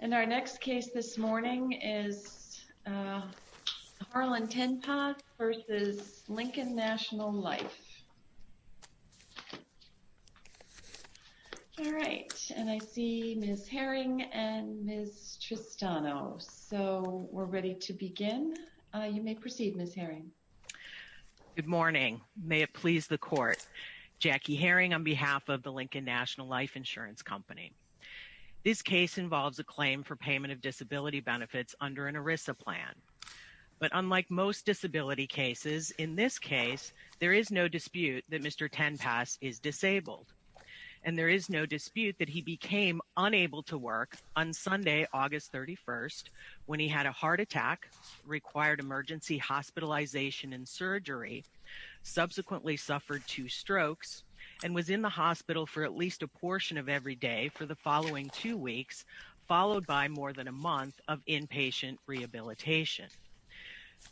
And our next case this morning is Harlan Ten Pas v. Lincoln National Life. All right and I see Ms. Herring and Ms. Tristano. So we're ready to begin. You may proceed Ms. Herring. Good morning. May it please the court. Jackie Herring on behalf of the Lincoln National Life Insurance Company. This case involves a claim for payment of disability benefits under an ERISA plan. But unlike most disability cases in this case there is no dispute that Mr. Ten Pas is disabled. And there is no dispute that he became unable to work on Sunday August 31st when he had a heart attack, required emergency hospitalization and surgery, subsequently suffered two strokes, and was in the hospital for at least a portion of every day for the following two weeks followed by more than a month of inpatient rehabilitation.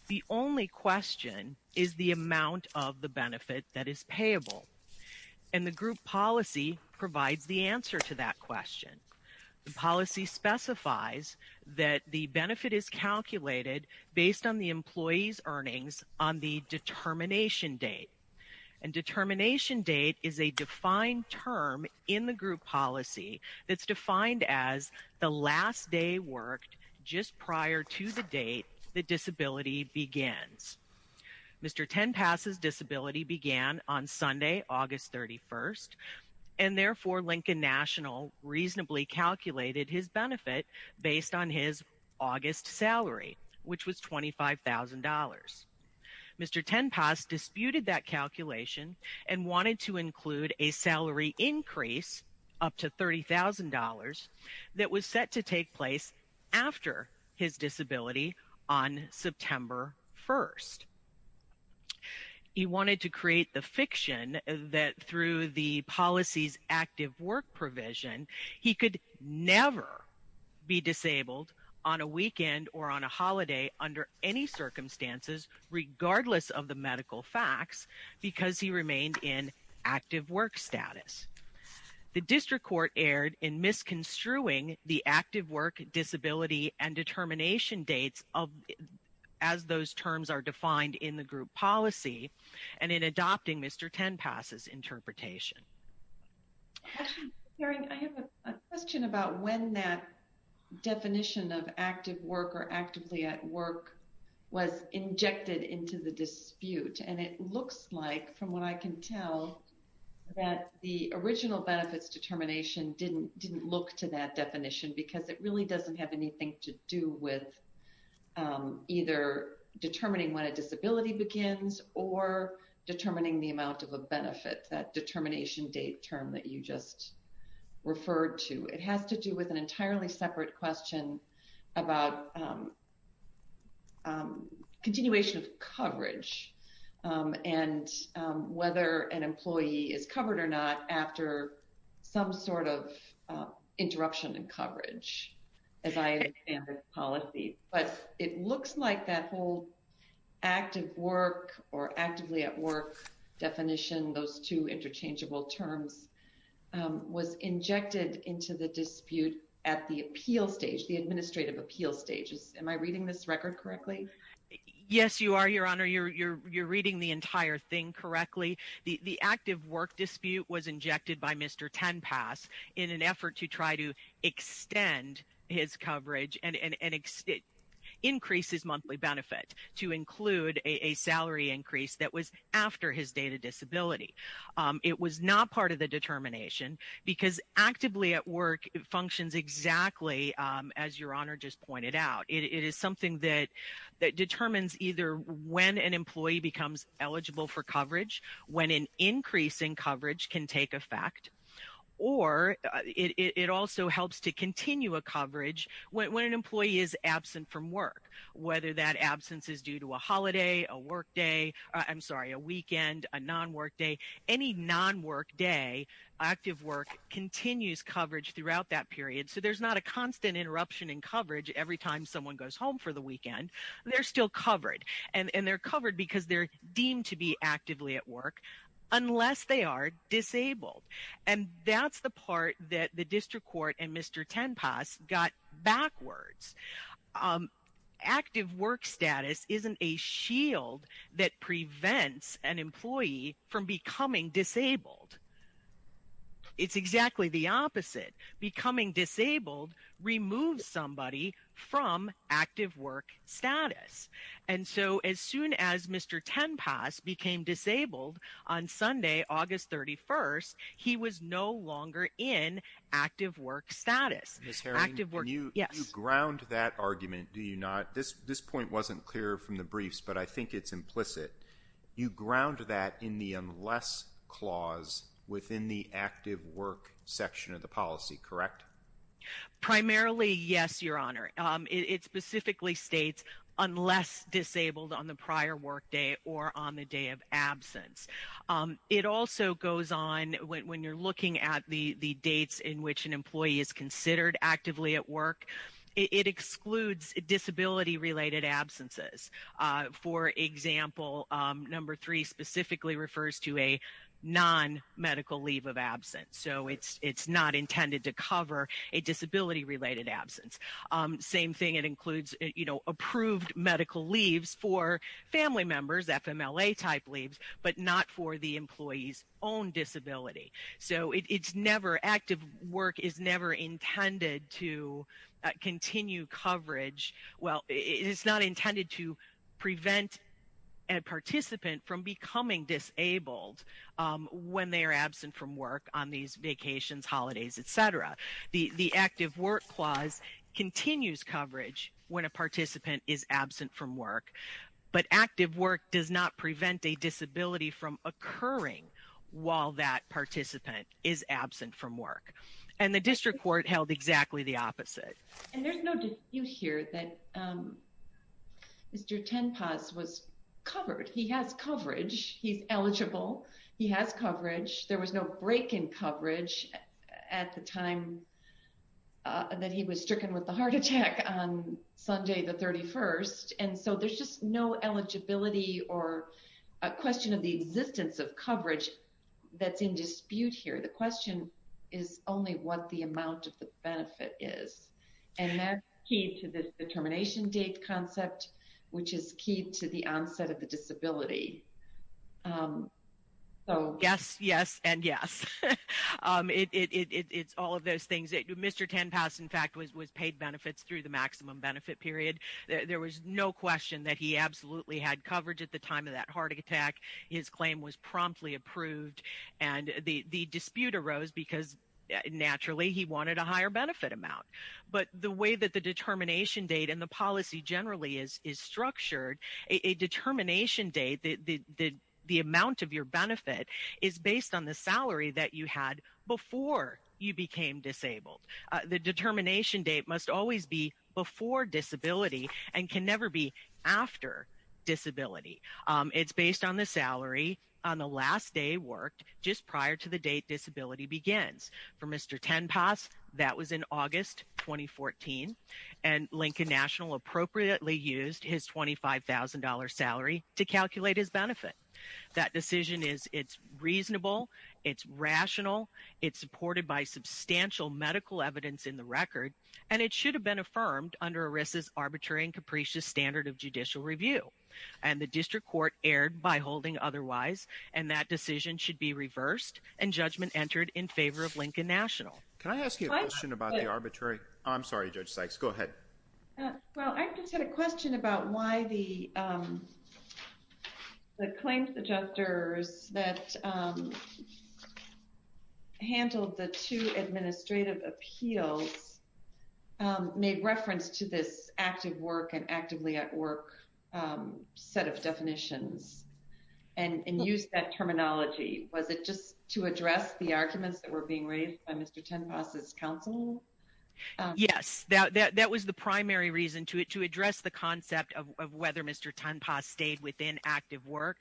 The only question is the amount of the benefit that is payable. And the group policy provides the answer to that question. The policy specifies that the benefit is calculated based on the defined term in the group policy that's defined as the last day worked just prior to the date the disability begins. Mr. Ten Pas' disability began on Sunday August 31st and therefore Lincoln National reasonably calculated his benefit based on his August salary which was $25,000. Mr. Ten Pas disputed that calculation and wanted to include a salary increase up to $30,000 that was set to take place after his disability on September 1st. He wanted to create the fiction that through the policy's active work provision he could never be disabled on a weekend or on a holiday under any circumstances regardless of the medical facts because he remained in active work status. The district court erred in misconstruing the active work disability and determination dates as those terms are defined in the group policy and in adopting Mr. Ten Pas' interpretation. I have a question about when that definition of active work or actively at work was injected into the dispute and it looks like from what I can tell that the original benefits determination didn't look to that definition because it really doesn't have anything to do with either determining when a disability begins or determining the amount of a benefit. That determination date term that you just referred to. It has to do with an entirely separate question about continuation of coverage and whether an employee is covered or not after some sort of interruption in coverage as I understand the policy. But it looks like that active work or actively at work definition, those two interchangeable terms, was injected into the dispute at the appeal stage, the administrative appeal stage. Am I reading this record correctly? Yes, you are, Your Honor. You're reading the entire thing correctly. The active work dispute was injected by Mr. Ten Pas in an effort to try to extend his coverage and increase his monthly benefit to include a salary increase that was after his date of disability. It was not part of the determination because actively at work functions exactly as Your Honor just pointed out. It is something that determines either when an employee becomes eligible for coverage, when an increase in coverage can take effect, or it also helps to when an employee is absent from work, whether that absence is due to a holiday, a weekend, a non-workday. Any non-workday active work continues coverage throughout that period. So there's not a constant interruption in coverage every time someone goes home for the weekend. They're still covered. And they're covered because they're deemed to be actively at work unless they are disabled. And that's the part that the district court and Mr. Ten Pas got backwards. Active work status isn't a shield that prevents an employee from becoming disabled. It's exactly the opposite. Becoming disabled removes somebody from active work status. And so as soon as Mr. Ten Pas became disabled on Sunday, August 31st, he was no longer in active work status. Ms. Herring, you ground that argument, do you not? This point wasn't clear from the briefs, but I think it's implicit. You ground that in the unless clause within the active work section of the policy, correct? Primarily, yes, Your Honor. It specifically states unless disabled on the prior workday or on the day of absence. It also goes on, when you're looking at the dates in which an employee is considered actively at work, it excludes disability-related absences. For example, number three specifically refers to a non-medical leave of absence. So it's not intended to cover a disability-related absence. Same thing, it includes approved medical leaves for family members, FMLA-type leaves, but not for the employee's own disability. So it's never, active work is never intended to continue coverage. Well, it's not intended to prevent a participant from becoming disabled when they are absent from work on these vacations, holidays, et cetera. The active work clause continues coverage when a participant is absent from work, but active work does not prevent a disability from occurring while that participant is absent from work. And the district court held exactly the opposite. And there's no dispute here that Mr. Tenpas was covered. He has coverage. He's eligible. He has coverage. There was no break in coverage at the time that he was stricken with the heart attack on Sunday the 31st. And so there's just no eligibility or a question of the existence of coverage that's in dispute here. The question is only what the amount of the benefit is. And that's key to this determination date concept, which is key to the onset of the disability. So yes, yes, and yes. It's all of those things. Mr. Tenpas, in fact, was paid benefits through the maximum benefit period. There was no question that he absolutely had coverage at the time of that heart attack. His claim was promptly approved. And the dispute arose because naturally he wanted a higher benefit amount. But the way that the determination date and the policy generally is structured, a determination date, the amount of your benefit is based on the salary that you had before you became disabled. The determination date must always be before disability and can never be after disability. It's based on the salary on the last day worked just prior to the date disability begins. For Mr. Tenpas, that was in August 2014. And Lincoln National appropriately used his $25,000 salary to calculate his benefit. That decision is, it's reasonable, it's rational, it's supported by substantial medical evidence in the record, and it should have been affirmed under ERISA's arbitrary and capricious standard of judicial review. And the district court erred by holding otherwise, and that decision should be reversed and judgment entered in favor of Lincoln National. Can I ask you a question about the arbitrary? I'm sorry, Judge Sykes, go ahead. Well, I just had a question about why the claims adjusters that handled the two administrative appeals made reference to this active work and actively at work set of definitions and used that terminology. Was it just to address the arguments that were being raised by Mr. Tenpas' counsel? Yes, that was the primary reason to address the concept of whether Mr. Tenpas stayed within active work.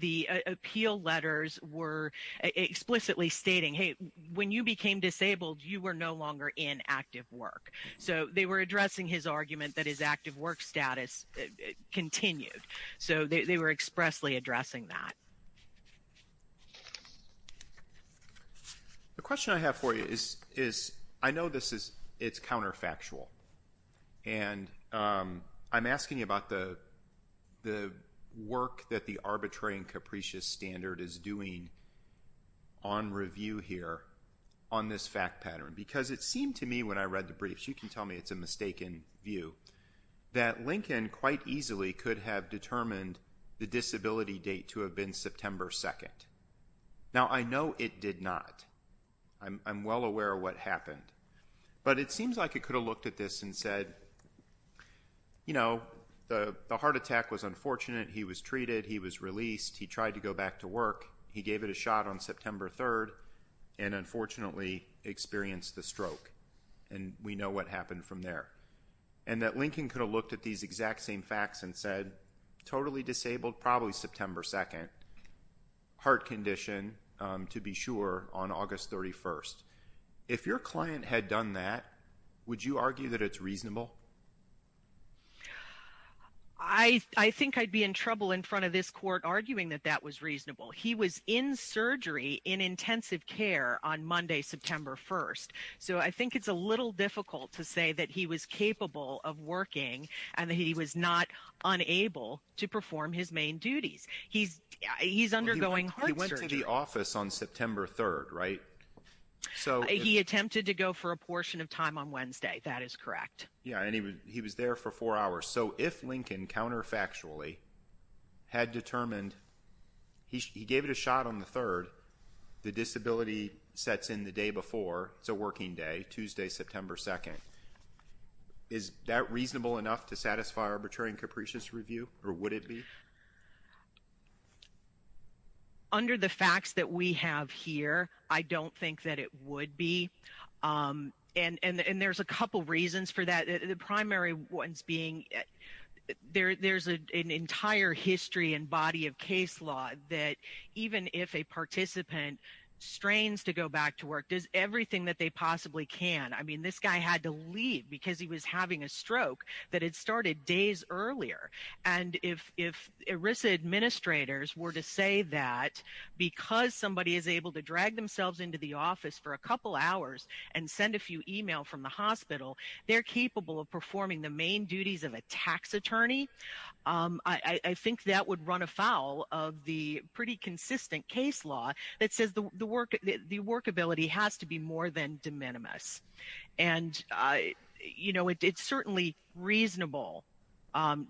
The appeal letters were explicitly stating, hey, when you became disabled, you were no longer in active work. So they were addressing his argument that his active work status continued. So they were expressly addressing that. The question I have for you is, I know this is counterfactual, and I'm asking you about the work that the arbitrary and capricious standard is doing on review here on this fact pattern. Because it seemed to me when I read the briefs, you can tell me it's a mistaken view, that Lincoln quite easily could have determined the disability date to have been September 2nd. Now I know it did not. I'm well aware of what happened. But it seems like it could have looked at this and said, you know, the heart attack was unfortunate, he was treated, he was released, he tried to go back to work, he gave it a shot on September 3rd, and unfortunately, experienced the stroke. And we know what happened from there. And that Lincoln could have looked at these exact same facts and said, totally disabled, probably September 2nd, heart condition, to be sure, on August 31st. If your client had done that, would you argue that it's reasonable? I think I'd be in trouble in front of this court arguing that that was on Monday, September 1st. So I think it's a little difficult to say that he was capable of working and that he was not unable to perform his main duties. He's undergoing heart surgery. He went to the office on September 3rd, right? So he attempted to go for a portion of time on Wednesday, that is correct. Yeah, and he was there for four hours. So if Lincoln, counterfactually, had determined, he gave it a shot on the 3rd, the disability sets in the day before, it's a working day, Tuesday, September 2nd. Is that reasonable enough to satisfy Arbitrary and Capricious Review, or would it be? Under the facts that we have here, I don't think that it would be. And there's a couple reasons for that. The primary ones being there's an entire history and body of case law that even if a participant strains to go back to work, does everything that they possibly can. I mean, this guy had to leave because he was having a stroke that had started days earlier. And if ERISA administrators were to say that because somebody is able to drag into the office for a couple hours and send a few emails from the hospital, they're capable of performing the main duties of a tax attorney, I think that would run afoul of the pretty consistent case law that says the workability has to be more than de minimis. And it's certainly reasonable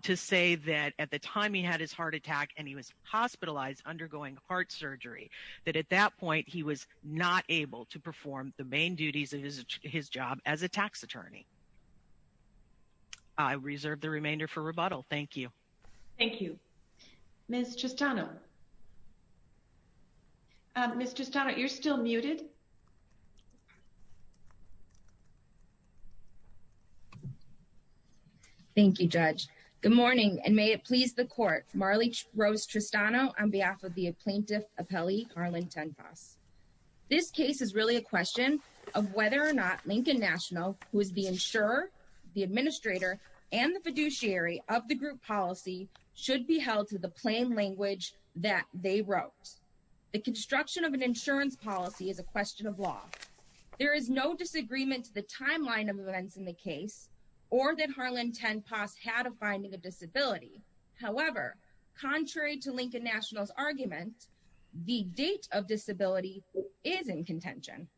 to say that at the time he had his heart attack and he was hospitalized, undergoing heart surgery, that at that point he was not able to perform the main duties of his job as a tax attorney. I reserve the remainder for rebuttal. Thank you. Thank you. Ms. Tristano. Ms. Tristano, you're still muted. Thank you, Judge. Good morning, and may it please the court. Marley Rose Tristano on behalf of the plaintiff appellee, Harlan Tenfas. This case is really a question of whether or not Lincoln National, who is the insurer, the administrator, and the fiduciary of the group policy, should be held to the plain language that they wrote. The construction of an insurance policy is a question of law. There is no disagreement to the timeline of events in the case or that Harlan Tenfas had a finding of disability. However, contrary to Lincoln National's argument, the date of disability is in contention.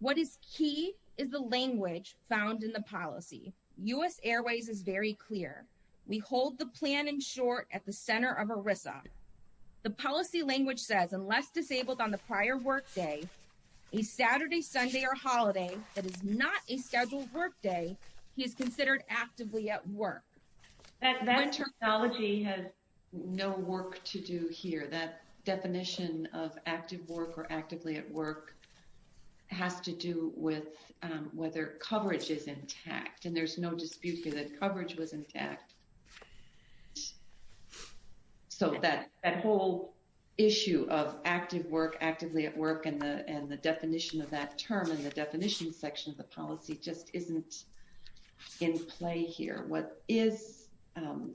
What is key is the language found in the policy. U.S. Airways is very clear. We hold the plan in short at the center of ERISA. The policy language says, unless disabled on the prior workday, a Saturday, Sunday, or holiday that is not a scheduled workday, he is considered actively at work. That terminology has no work to do here. That definition of active work or actively at work has to do with whether coverage is intact, and there's no dispute that coverage was intact. So, that whole issue of active work, actively at work, and the definition of that term and the definition section of the policy just isn't in play here. What is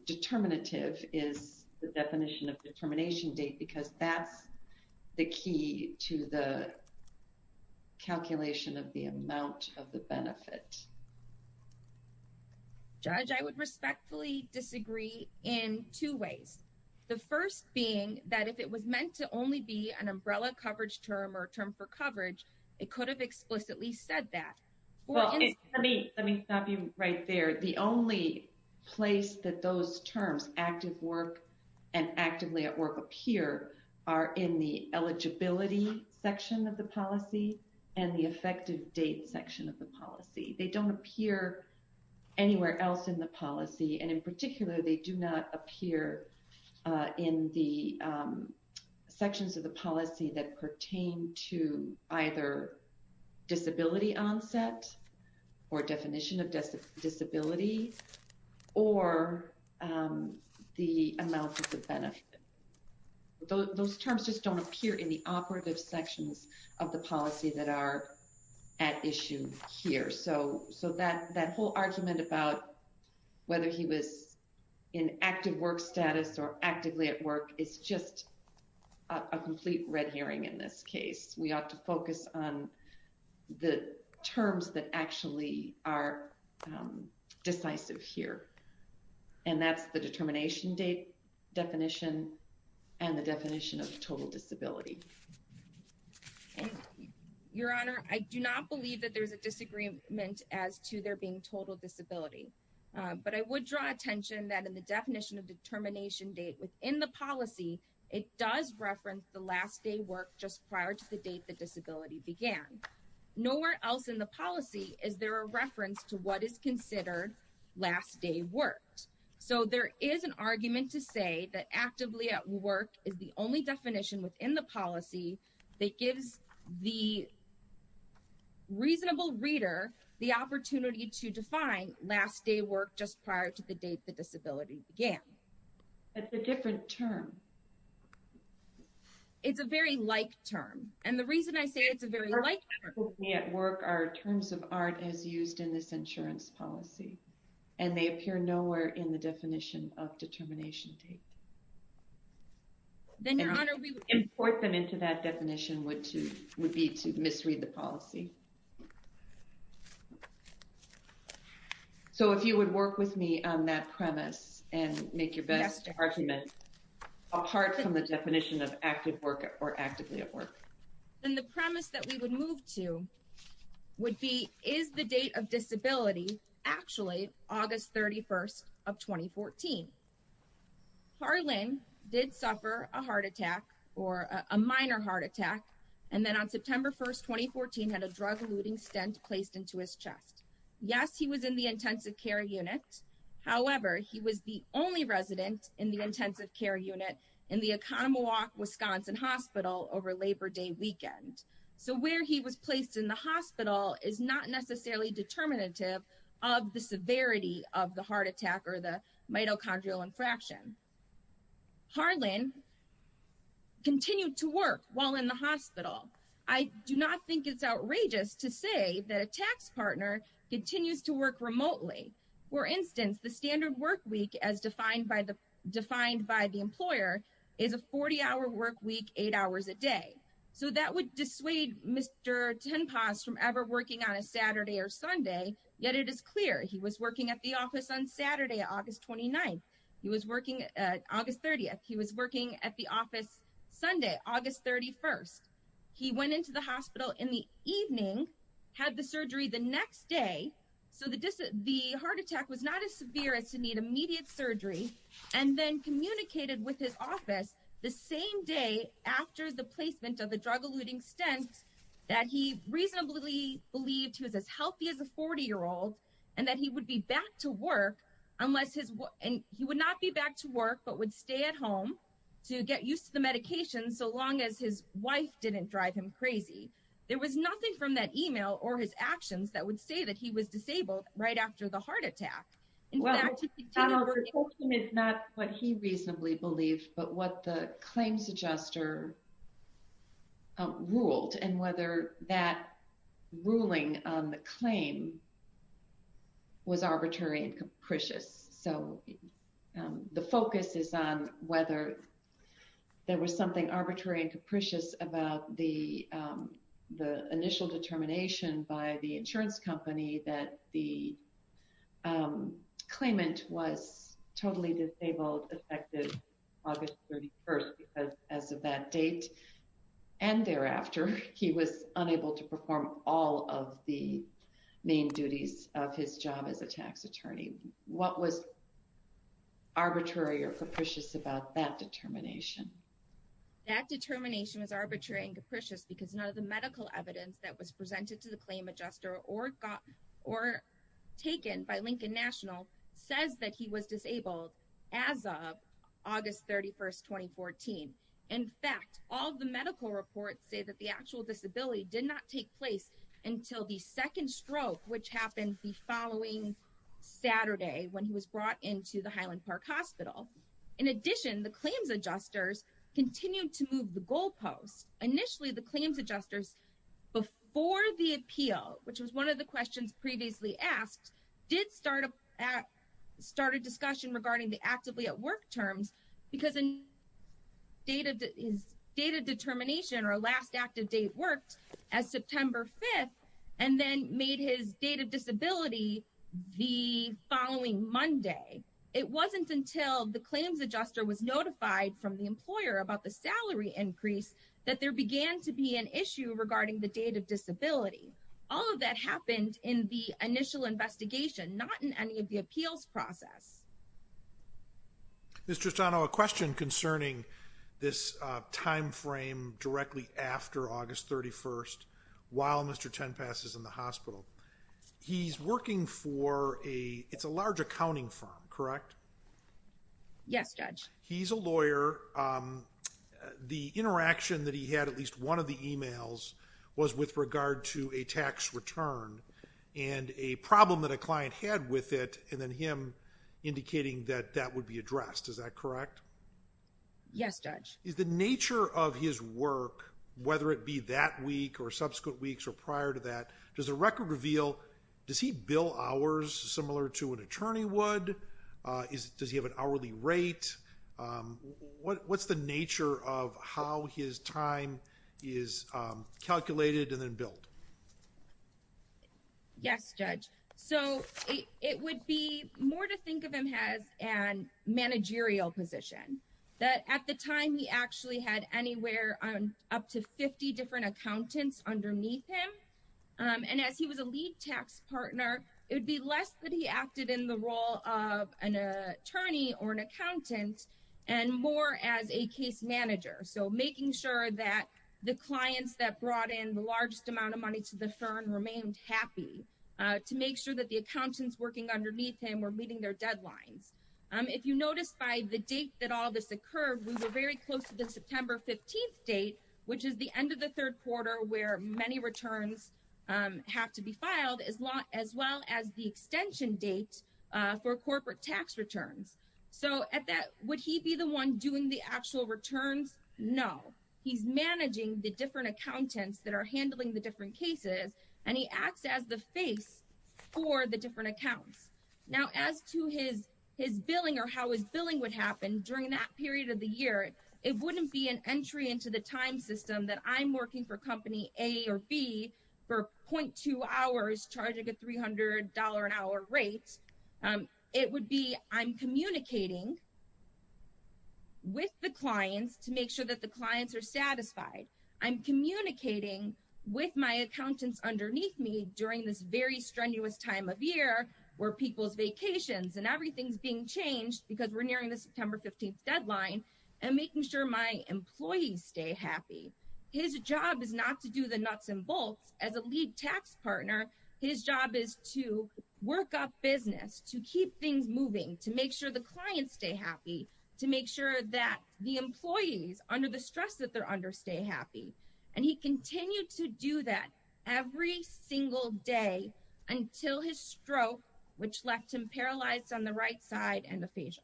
determinative is the definition of determination date, because that's the key to the calculation of the amount of the benefit. Judge, I would respectfully disagree in two ways. The first being that if it was meant to only be an umbrella coverage term or term for coverage, it could have explicitly said that. Well, let me stop you right there. The only place that those terms, active work and actively at work appear are in the eligibility section of the policy and the effective date section of the policy. They don't appear anywhere else in the policy, and in particular, they do not appear in the sections of the policy that pertain to either disability onset or definition of disability or the amount of the benefit. Those terms just don't appear in the operative sections of the policy that are at issue here. So, that whole argument about whether he was in active work status or actively at work is just a complete red herring in this case. We ought to focus on the terms that actually are decisive here, and that's the determination date definition and the definition of total disability. Your Honor, I do not believe that there's a disagreement as to there being total disability, but I would draw attention that in the definition of determination date within the policy, it does reference the last day work just prior to the date the disability began. Nowhere else in the policy is there a reference to what is considered last day worked. So, there is an argument to say that actively at work is the only definition within the policy that gives the reasonable reader the opportunity to define last day work just prior to the date the disability began. It's a different term. It's a very like term, and the reason I say it's a very like term. At work, our terms of art is used in this insurance policy, and they appear nowhere in the definition of determination date. Then, Your Honor, we would... Import them into that definition would be to misread the policy. So, if you would work with me on that premise and make your best argument apart from the definition of active work or actively at work. Then, the premise that we would move to would be, is the date of disability actually August 31st of 2014? Harlan did suffer a heart attack or a minor heart attack, and then on September 1st, 2014, had a drug-eluting stent placed into his chest. Yes, he was in the intensive care unit. However, he was the only resident in the intensive care unit in the Oconomowoc Wisconsin Hospital over Labor Day weekend. So, where he was placed in the hospital is not necessarily determinative of the severity of the heart attack or the mitochondrial infraction. Harlan continued to work while in the hospital. I do not think it's outrageous to say that a tax partner continues to work remotely. For instance, the standard work week, as defined by the employer, is a 40-hour work week, eight hours a day. So, that would dissuade Mr. Tenpas from ever working on a Saturday or Sunday. Yet, it is clear he was working at the office on Saturday, August 29th. He was working at August 30th. He was working at the office Sunday, August 31st. He went into the hospital in the evening, had the surgery the next day. So, the heart attack was not as severe as to need immediate surgery, and then communicated with his office the same day after the placement of the drug-eluting stent that he reasonably believed he was as healthy as a 40-year-old, and that he would be back to work, and he would not be back to work, but would stay at home to get used to the medications, so long as his wife didn't drive him crazy. There was nothing from that email or his actions that would say that he was disabled right after the heart attack. In fact, he continued to stay at home. Well, Donald, the question is not what he reasonably believed, but what the claims adjuster ruled, and whether that ruling on the claim was arbitrary and capricious. About the initial determination by the insurance company that the claimant was totally disabled effective August 31st, because as of that date and thereafter, he was unable to perform all of the main duties of his job as a tax attorney. What was arbitrary or capricious about that determination? That determination was arbitrary and capricious because none of the medical evidence that was presented to the claim adjuster or taken by Lincoln National says that he was disabled as of August 31st, 2014. In fact, all of the medical reports say that the actual disability did not take place until the second stroke, which happened the following Saturday when he was brought into the Highland Park Hospital. In addition, the claims adjusters continued to move the goalposts. Initially, the claims adjusters, before the appeal, which was one of the questions previously asked, did start a discussion regarding the actively at work terms because his date of determination or last active date worked as September 5th and then made his date of disability the following Monday. It wasn't until the claims adjuster was notified from the employer about the salary increase that there began to be an issue regarding the date of disability. All of that happened in the initial investigation, not in any of the appeals process. Mr. Tristano, a question concerning this time frame directly after August 31st while Mr. Tenpass is in the hospital. He's working for a, it's a large accounting firm, correct? Yes, Judge. He's a lawyer. The interaction that he had, at least one of the emails, was with regard to a tax return and a problem that a client had with it and then him indicating that that would be addressed. Is that correct? Yes, Judge. Is the nature of his work, whether it be that week or subsequent weeks or prior to that, does the record reveal, does he bill hours similar to an attorney would? Does he have an hourly rate? What's the nature of how his time is calculated and then billed? Yes, Judge. So it would be more to think of him as a managerial position, that at the time he actually had anywhere up to 50 different accountants underneath him. And as he was a lead tax partner, it would be less that he acted in the role of an attorney or an accountant and more as a case manager. So making sure that the clients that brought in the largest amount of money to the firm remained happy, to make sure that the accountants working underneath him were meeting their deadlines. If you notice by the date that all this occurred, we were very close to the September 15th date, which is the end of the third quarter where many returns have to be filed, as well as the extension date for corporate tax returns. So at that, would he be the one doing the actual returns? No. He's managing the different accountants that are handling the different cases and he acts as the face for the different accounts. Now as to his billing or how his billing would happen during that period of the year, it wouldn't be an entry into the time system that I'm working for company A or B for 0.2 hours charging a $300 an hour rate. It would be I'm communicating with the clients to make sure that the clients are satisfied. I'm communicating with my accountants underneath me during this very strenuous time of year where people's vacations and everything's being changed because we're nearing the September 15th deadline and making sure my employees stay happy. His job is not to do the nuts and bolts. As a lead tax partner, his job is to work up business, to keep things moving, to make sure the clients stay happy, to make sure that the employees under the stress that they're under stay happy. And he continued to do that every single day until his stroke, which left him paralyzed on the right side and aphasia.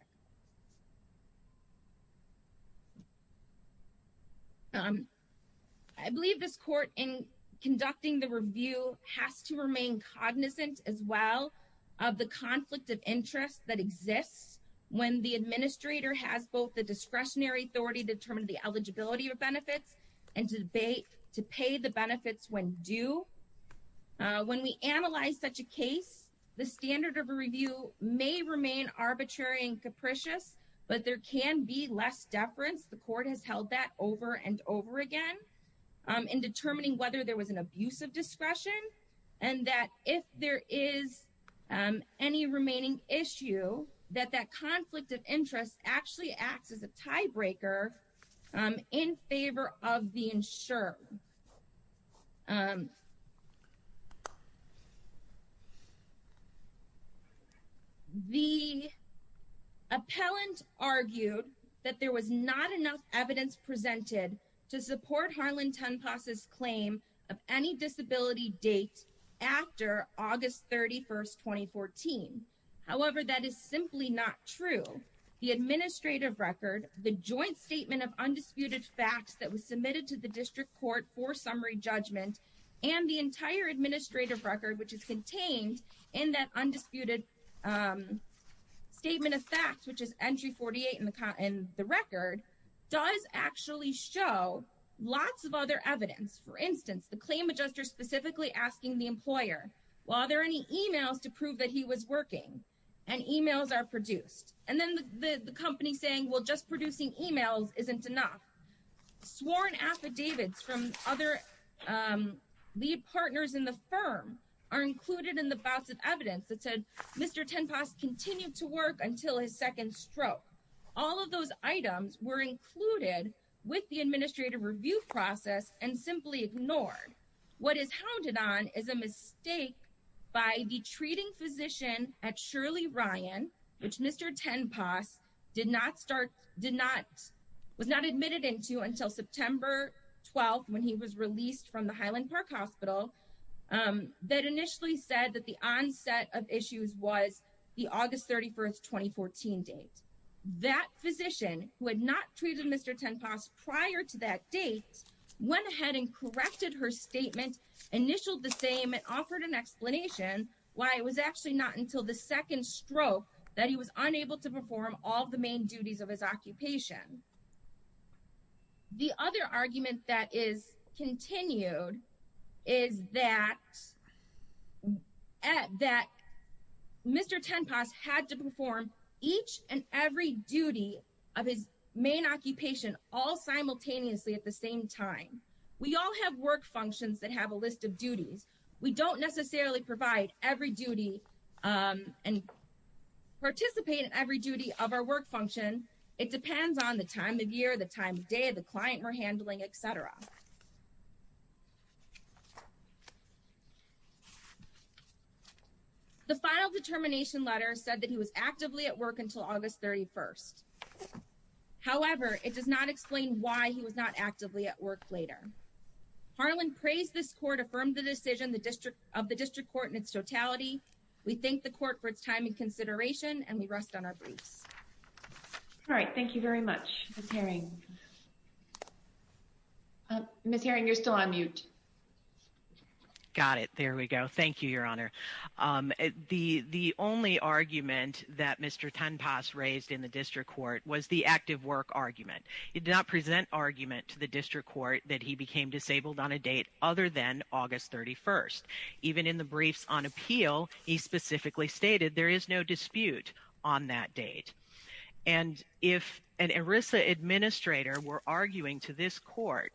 I believe this court in conducting the review has to remain cognizant as well of the conflict of interest that exists when the administrator has both the discretionary authority to determine the eligibility of benefits and to pay the benefits when due. When we analyze such a case, the standard of a review may remain arbitrary and capricious, but there can be less deference. The court has held that over and over again in determining whether there was an abuse of discretion and that if there is any remaining issue, that that conflict of interest actually acts as a tiebreaker in favor of the insured. The appellant argued that there was not enough evidence presented to support Harlan Tenpas' claim of any disability date after August 31st, 2014. However, that is simply not true. The administrative record, the joint statement of undisputed facts that was submitted to the court, and the entire administrative record, which is contained in that undisputed statement of facts, which is entry 48 in the record, does actually show lots of other evidence. For instance, the claim adjuster specifically asking the employer, well, are there any emails to prove that he was working, and emails are produced. And then the company saying, well, just producing emails isn't enough. Sworn affidavits from other lead partners in the firm are included in the bouts of evidence that said Mr. Tenpas continued to work until his second stroke. All of those items were included with the administrative review process and simply ignored. What is hounded on is a mistake by the treating physician at Shirley Ryan, which Mr. Tenpas did not start, was not admitted into until September 12th when he was released from the Highland Park Hospital, that initially said that the onset of issues was the August 31st, 2014 date. That physician, who had not treated Mr. Tenpas prior to that date, went ahead and corrected her statement, initialed the same, and offered an explanation why it was actually not until the second stroke that he was unable to perform all the main duties of his occupation. The other argument that is continued is that Mr. Tenpas had to perform each and every duty of his main occupation all simultaneously at the same time. We all have work functions that have a list of duties. We don't necessarily provide every duty and participate in every duty of our work function. It depends on the time of year, the time of day, the client we're handling, etc. The final determination letter said that he was actively at work until August 31st. However, it does not explain why he was not actively at work later. Harlan praised this court, affirmed the decision of the district court in its totality. We thank the court for its time and consideration, and we rest on our briefs. All right. Thank you very much, Ms. Herring. Ms. Herring, you're still on mute. Got it. There we go. Thank you, Your Honor. The only argument that Mr. Tenpas raised in the district court was the active work argument. It did not present argument to the district court that he became disabled on a date other than August 31st. Even in the briefs on appeal, he specifically stated there is no dispute on that date. And if an ERISA administrator were arguing to this court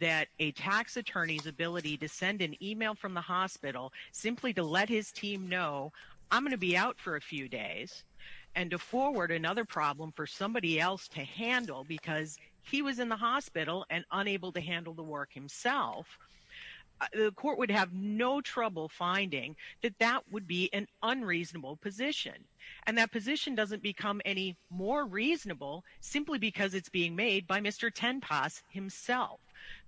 that a tax attorney's ability to send an email from the hospital simply to let his team know, I'm going to be out for a few days, and to forward another problem for somebody else to handle because he was in the hospital and unable to handle the work himself, the court would have no trouble finding that that would be an unreasonable position. And that position doesn't become any more reasonable simply because it's being made by Mr. Tenpas himself.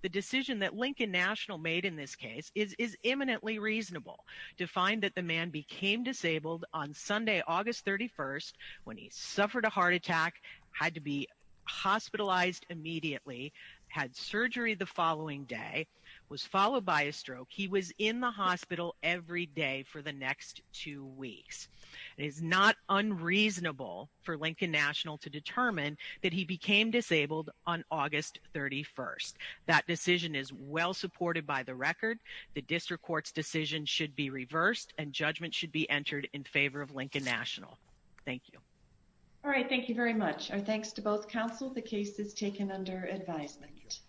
The decision that Lincoln National made in this case is imminently reasonable to find that the man became disabled on Sunday, August 31st, when he suffered a heart attack, had to be hospitalized immediately, had surgery the following day, was followed by a stroke. He was in the hospital every day for the next two weeks. It is not unreasonable for Lincoln National to determine that he became disabled on August 31st. That court's decision should be reversed and judgment should be entered in favor of Lincoln National. Thank you. All right. Thank you very much. Our thanks to both counsel. The case is taken under advisement.